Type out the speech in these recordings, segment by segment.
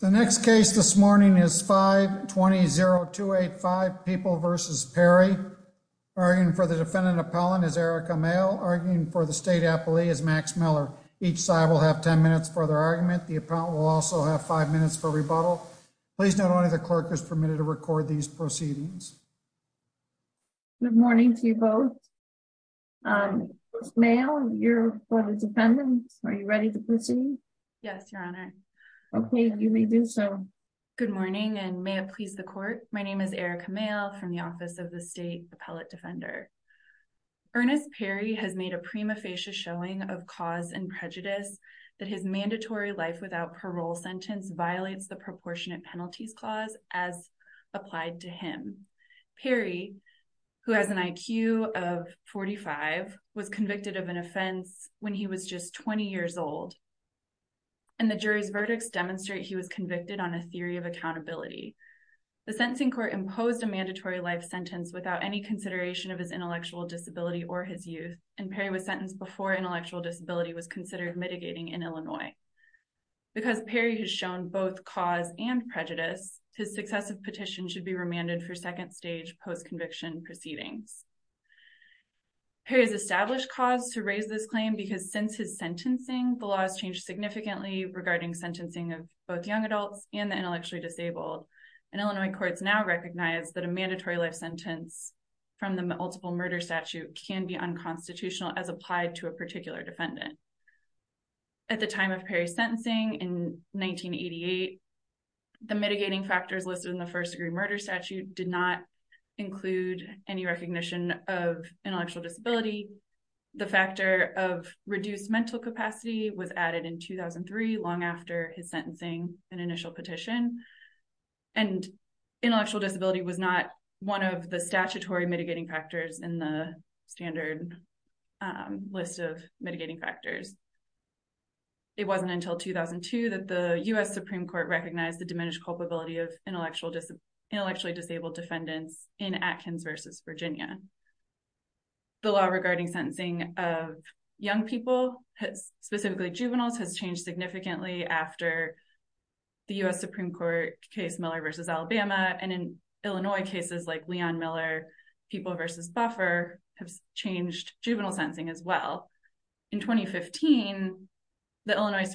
The next case this morning is 520-285 People v. Perry. Arguing for the defendant appellant is Erica Mayle. Arguing for the state appellee is Max Miller. Each side will have 10 minutes for their argument. The appellant will also have five minutes for rebuttal. Please note only the clerk is permitted to record these proceedings. Good morning to you both. Mayle, you're for the defendant. Are you ready to proceed? Yes, your honor. Okay, you may do so. Good morning and may it please the court. My name is Erica Mayle from the Office of the State Appellate Defender. Ernest Perry has made a prima facie showing of cause and prejudice that his mandatory life without parole sentence violates the proportionate penalties clause as applied to him. Perry, who has an IQ of 45, was convicted of an offense when he was just 20 years old, and the jury's verdicts demonstrate he was convicted on a theory of accountability. The sentencing court imposed a mandatory life sentence without any consideration of his intellectual disability or his youth, and Perry was sentenced before intellectual disability was considered mitigating in Illinois. Because Perry has shown both cause and prejudice, his successive petition should be remanded for second stage post-conviction proceedings. Perry has established cause to raise this claim because since his sentencing, the law has changed significantly regarding sentencing of both young adults and the intellectually disabled, and Illinois courts now recognize that a mandatory life sentence from the multiple murder statute can be unconstitutional as applied to a particular defendant. At the time of Perry's sentencing in 1988, the mitigating factors listed in the recognition of intellectual disability, the factor of reduced mental capacity was added in 2003, long after his sentencing and initial petition, and intellectual disability was not one of the statutory mitigating factors in the standard list of mitigating factors. It wasn't until 2002 that the U.S. Supreme Court recognized the diminished culpability of intellectually disabled defendants in Atkins v. Virginia. The law regarding sentencing of young people, specifically juveniles, has changed significantly after the U.S. Supreme Court case Miller v. Alabama, and in Illinois cases like Leon Miller, People v. Buffer, have changed juvenile sentencing as well. In 2015, the Illinois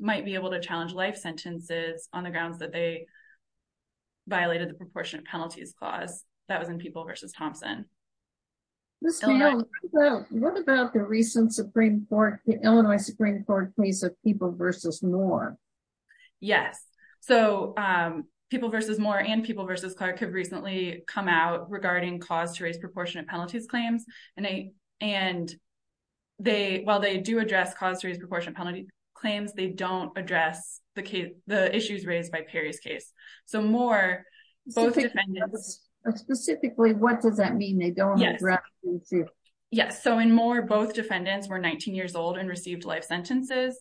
might be able to challenge life sentences on the grounds that they violated the proportionate penalties clause that was in People v. Thompson. What about the recent Illinois Supreme Court case of People v. Moore? Yes, so People v. Moore and People v. Clark have recently come out regarding cause to raise proportionate penalties claims, and while they do address cause to raise proportion penalty claims, they don't address the issues raised by Perry's case. So, in Moore, both defendants were 19 years old and received life sentences,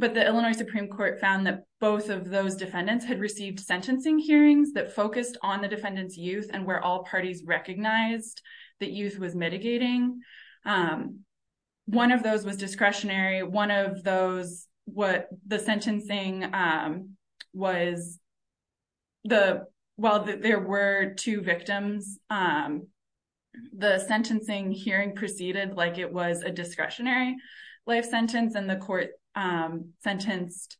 but the Illinois Supreme Court found that both of those defendants had received sentencing hearings that focused on the defendant's youth, and where all parties recognized that youth was mitigating. One of those was discretionary, one of those, while there were two victims, the sentencing hearing proceeded like it was a discretionary life sentence, and the court sentenced,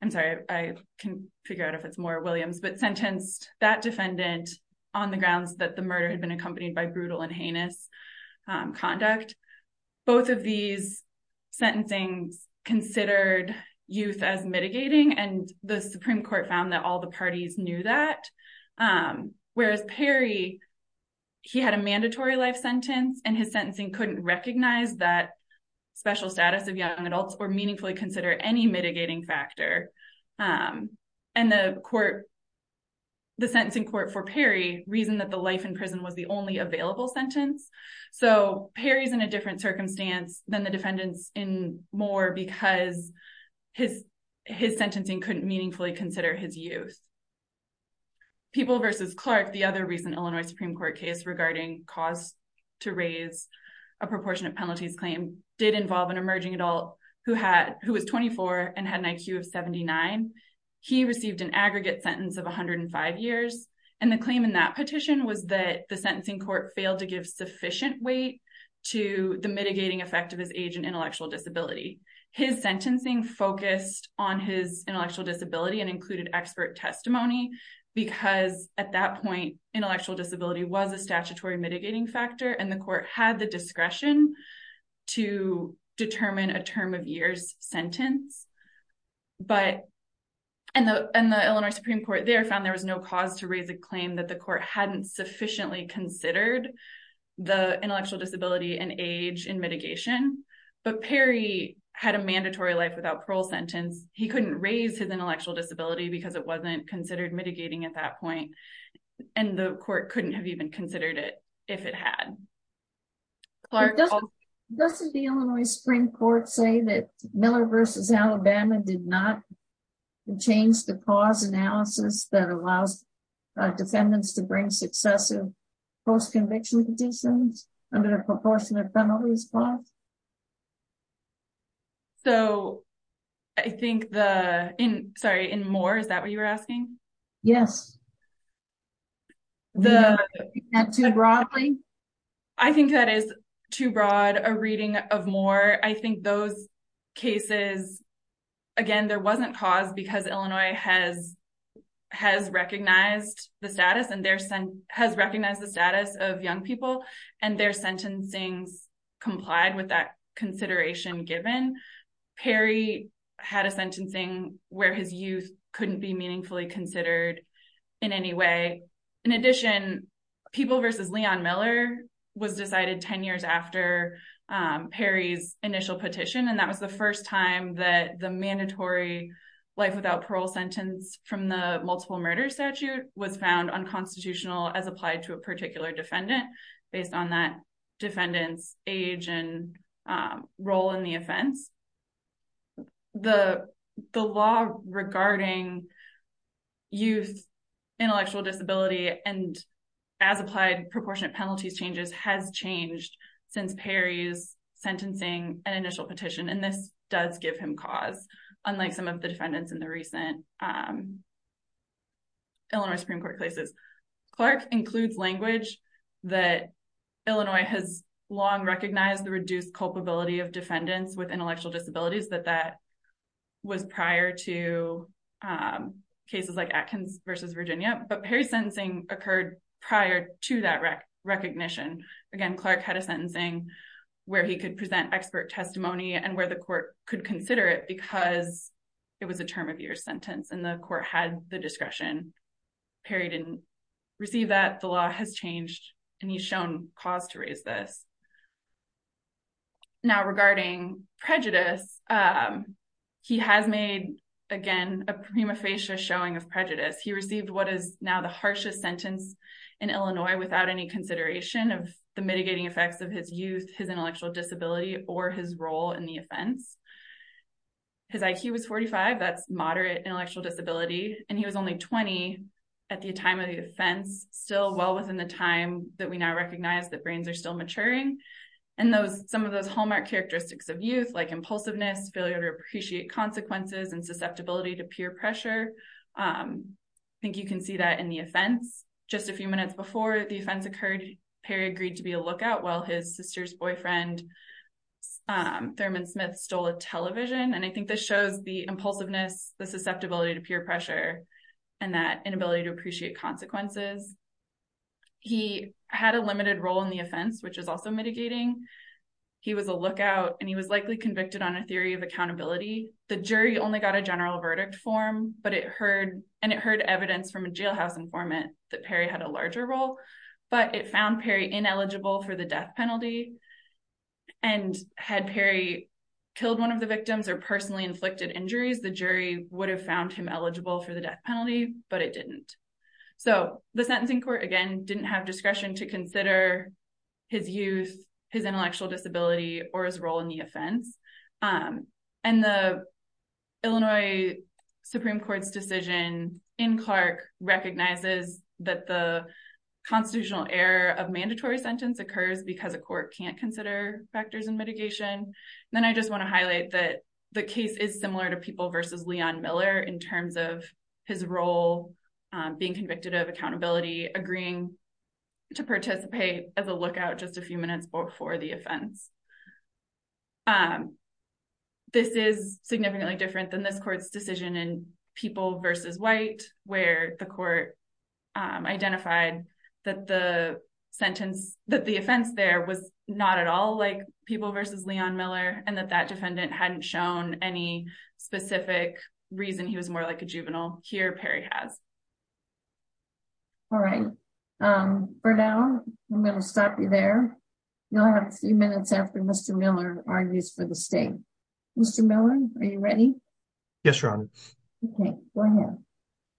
I'm sorry, I can't figure out if it's Moore or Williams, but sentenced that defendant on the grounds that the murder had accompanied by brutal and heinous conduct. Both of these sentencings considered youth as mitigating, and the Supreme Court found that all the parties knew that, whereas Perry, he had a mandatory life sentence, and his sentencing couldn't recognize that special status of young adults or meaningfully consider any mitigating factor, and the court, the sentencing court for Perry reasoned that the life in prison was the only available sentence. So, Perry's in a different circumstance than the defendants in Moore because his sentencing couldn't meaningfully consider his youth. People versus Clark, the other recent Illinois Supreme Court case regarding cause to raise a proportionate penalties claim, did involve an emerging adult who was 24 and had an IQ of 79. He received an aggregate sentence of 105 years, and the claim in that petition was that the sentencing court failed to give sufficient weight to the mitigating effect of his age and intellectual disability. His sentencing focused on his intellectual disability and included expert testimony because at that point, intellectual disability was a statutory mitigating factor, and the court had the discretion to determine a term of years sentence, but, and the Illinois Supreme Court there found there was no cause to raise a claim that the court hadn't sufficiently considered the intellectual disability and age in mitigation, but Perry had a mandatory life without parole sentence. He couldn't raise his intellectual disability because it wasn't considered mitigating at that point, and the court couldn't have even Miller versus Alabama did not change the cause analysis that allows defendants to bring successive post-conviction conditions under the proportionate penalties clause. So, I think the, in, sorry, in Moore, is that what you were asking? Yes. The, is that too broadly? I think that is too broad a reading of Moore. I think those cases, again, there wasn't cause because Illinois has, has recognized the status and their, has recognized the status of young people and their sentencings complied with that consideration given. Perry had a sentencing where his youth couldn't be meaningfully considered in any way. In addition, People versus Leon Miller was decided 10 years after Perry's initial petition, and that was the first time that the mandatory life without parole sentence from the multiple murder statute was found unconstitutional as applied to a particular defendant based on that defendant's age and role in the offense. The, the law regarding youth intellectual disability and as applied proportionate penalties changes has changed since Perry's sentencing and initial petition, and this does give him cause, unlike some of the defendants in the recent Illinois Supreme Court cases. Clark includes language that Illinois has long recognized the reduced culpability of defendants with intellectual disabilities, that that was prior to cases like Atkins versus Virginia, but Perry's sentencing occurred prior to that recognition. Again, Clark had a sentencing where he could present expert testimony and where the court could consider it because it was a term of year sentence and the court had the discretion. Perry didn't receive that. The law has changed and he's shown cause to raise this. Now regarding prejudice, he has made, again, a prima facie showing of prejudice. He received what is now the harshest sentence in Illinois without any consideration of the mitigating effects of his youth, his intellectual disability, or his role in the offense. His IQ was 45, that's moderate intellectual disability, and he was only 20 at the time of the offense, still well within the time that we now recognize that brains are still maturing. Some of those hallmark characteristics of youth, like impulsiveness, failure to appreciate consequences, and susceptibility to peer pressure, I think you can see that in the offense. Just a few minutes before the offense occurred, Perry agreed to be a lookout while his sister's boyfriend, Thurman Smith, stole a television, and I think this shows the impulsiveness, the susceptibility to peer pressure, and that inability to appreciate consequences. He had a limited role in the offense, which is also mitigating. He was a lookout, and he was likely convicted on a theory of accountability. The jury only got a general verdict form, and it heard evidence from a jailhouse informant that Perry had a larger role, but it found Perry ineligible for the death penalty, and had Perry killed one of the victims or personally inflicted injuries, the jury would have found him eligible for the death penalty, but it didn't. So the sentencing court, again, didn't have discretion to consider his youth, his intellectual disability, or his role in the offense, and the Illinois Supreme Court's decision in Clark recognizes that the constitutional error of mandatory sentence occurs because a court can't consider factors in mitigation. Then I just want to highlight that the case is similar to being convicted of accountability, agreeing to participate as a lookout just a few minutes before the offense. This is significantly different than this court's decision in People v. White, where the court identified that the sentence, that the offense there was not at all like People v. Leon Miller, and that that defendant hadn't shown any specific reason he was more like a juvenile. Here, Perry has. All right. For now, I'm going to stop you there. You'll have a few minutes after Mr. Miller argues for the state. Mr. Miller, are you ready? Yes, Your Honor. Okay, go ahead.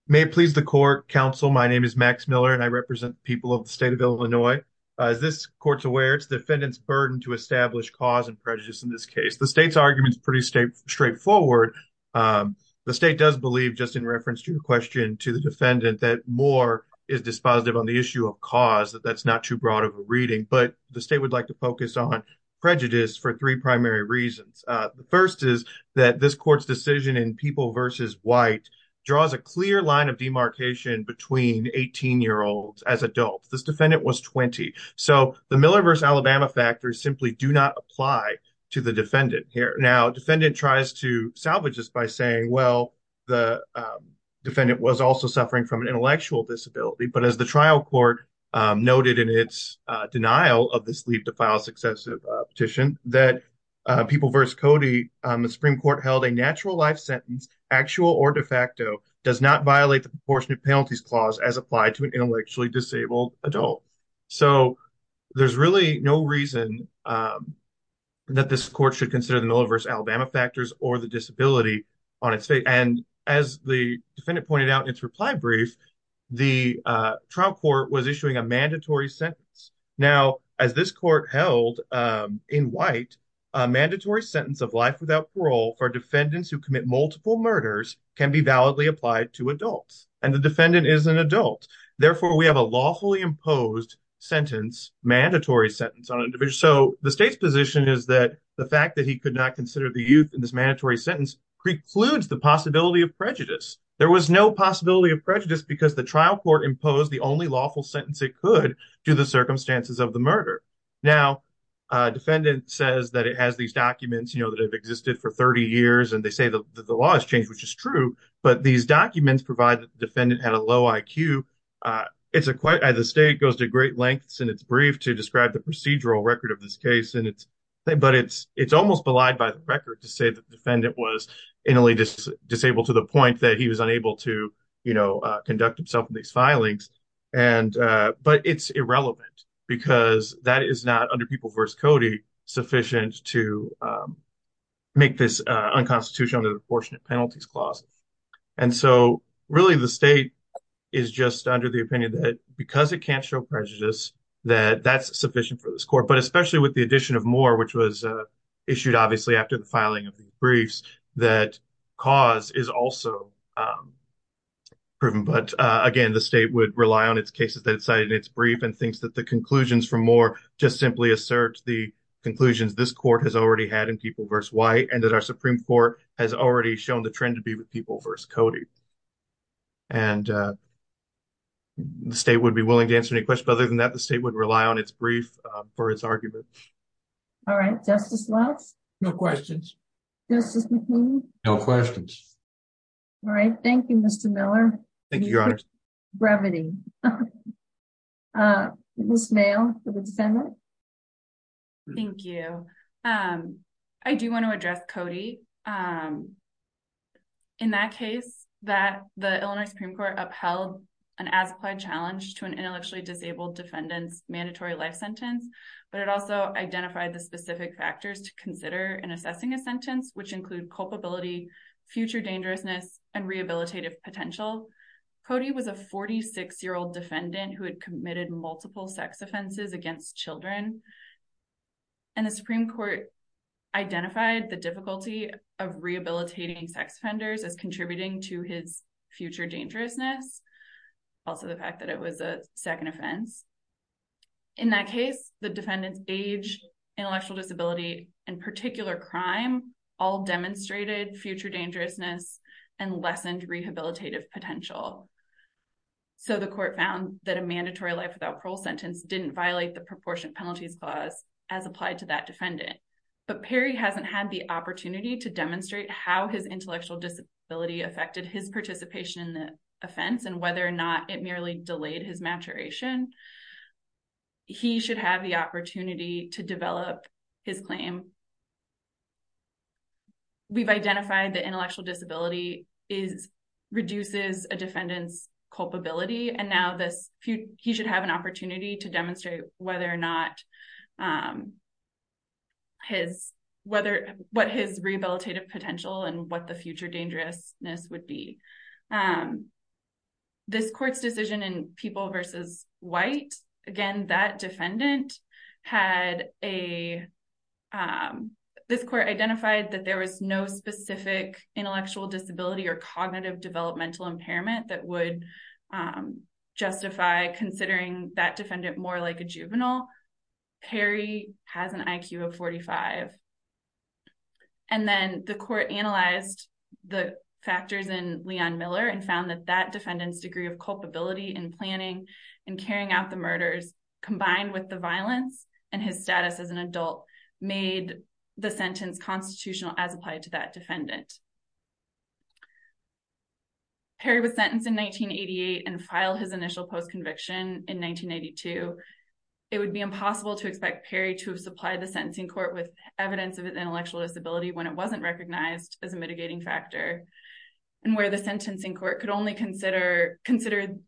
May it please the court, counsel, my name is Max Miller, and I represent the people of the state of Illinois. As this court's aware, it's the defendant's burden to establish cause and prejudice in this case. The state's argument is pretty straightforward. The state does believe, just in reference to your question to the defendant, that more is dispositive on the issue of cause, that that's not too broad of a reading, but the state would like to focus on prejudice for three primary reasons. The first is that this court's decision in People v. White draws a clear line of demarcation between 18-year-olds as adults. This defendant was 20, so the Miller v. Alabama factors simply do not apply to the defendant here. Now, defendant tries to salvage this by saying, well, the defendant was also suffering from an intellectual disability, but as the trial court noted in its denial of this leave to file successive petition, that People v. Cody, the Supreme Court held a natural life sentence, actual or de facto, does not violate the proportionate penalties clause as applied to an intellectually disabled adult. So there's really no reason that this court should consider the Miller v. Alabama factors or the disability on its fate. And as the defendant pointed out in its reply brief, the trial court was issuing a mandatory sentence. Now, as this court held in White, a mandatory sentence of life without parole for defendants who commit multiple murders can be validly applied to adults, and the sentence, mandatory sentence on an individual. So the state's position is that the fact that he could not consider the youth in this mandatory sentence precludes the possibility of prejudice. There was no possibility of prejudice because the trial court imposed the only lawful sentence it could to the circumstances of the murder. Now, defendant says that it has these documents, you know, that have existed for 30 years, and they say that the law has changed, which is true, but these documents provide that the defendant had a low IQ. The state goes to great lengths in its brief to describe the procedural record of this case, but it's almost belied by the record to say that the defendant was intellectually disabled to the point that he was unable to, you know, conduct himself in these filings. But it's irrelevant because that is not, under People v. Cody, sufficient to make this unconstitutional under the Proportionate Penalties Clause. And so, really, the state is just under the opinion that because it can't show prejudice, that that's sufficient for this court. But especially with the addition of Moore, which was issued, obviously, after the filing of the briefs, that cause is also proven. But, again, the state would rely on its cases that it cited in its brief and thinks that conclusions from Moore just simply assert the conclusions this court has already had in People v. White, and that our Supreme Court has already shown the trend to be with People v. Cody. And the state would be willing to answer any questions. But other than that, the state would rely on its brief for its argument. All right. Justice Lutz? No questions. Justice McHugh? No questions. All right. Thank you, Mr. Miller. Thank you, Your Honors. Brevity. Ms. Mayo, for the defendant? Thank you. I do want to address Cody. In that case, the Illinois Supreme Court upheld an as-applied challenge to an intellectually disabled defendant's mandatory life sentence, but it also identified the specific factors to consider in assessing a sentence, which include culpability, future dangerousness, and rehabilitative potential. Cody was a 46-year-old defendant who had committed multiple sex offenses against children, and the Supreme Court identified the difficulty of rehabilitating sex offenders as contributing to his future dangerousness, also the fact that it was a second offense. In that case, the defendant's age, intellectual disability, and particular crime all demonstrated future dangerousness and lessened rehabilitative potential. So the court found that a mandatory life without parole sentence didn't violate the proportionate penalties clause as applied to that defendant. But Perry hasn't had the opportunity to demonstrate how his intellectual disability affected his participation in the offense and whether or not it merely delayed his maturation. He should have the opportunity to develop his claim. We've identified that intellectual disability reduces a defendant's culpability, and now he should have an opportunity to demonstrate what his rehabilitative potential and what the future dangerousness would be. This court's decision in People v. White, again, this court identified that there was no specific intellectual disability or cognitive developmental impairment that would justify considering that defendant more like a juvenile. Perry has an IQ of 45. And then the court analyzed the factors in Leon Miller and found that that combined with the violence and his status as an adult made the sentence constitutional as applied to that defendant. Perry was sentenced in 1988 and filed his initial post-conviction in 1992. It would be impossible to expect Perry to have supplied the sentencing court with evidence of intellectual disability when it wasn't recognized as a mitigating factor and where the sentencing court could only consider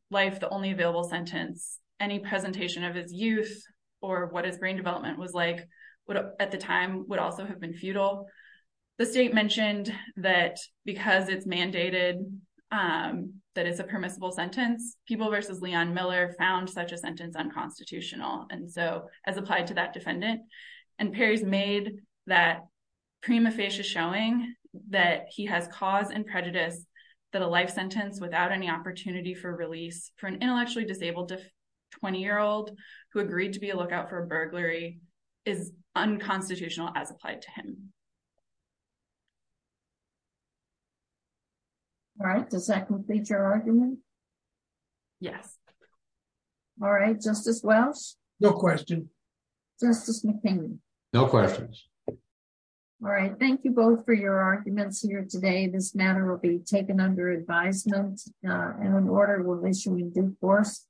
life the only available sentence. Any presentation of his youth or what his brain development was like at the time would also have been futile. The state mentioned that because it's mandated that it's a permissible sentence, People v. Leon Miller found such a sentence unconstitutional as applied to that defendant. And Perry's made that prima facie showing that he has cause and prejudice that a life sentence without any opportunity for release for an intellectually disabled 20-year-old who agreed to be a lookout for burglary is unconstitutional as applied to him. All right, does that complete your argument? Yes. All right, Justice Welch? No question. Justice McKinley? No questions. All right, thank you both for your arguments here today. This matter will be taken under advisement and an order will issue in due course.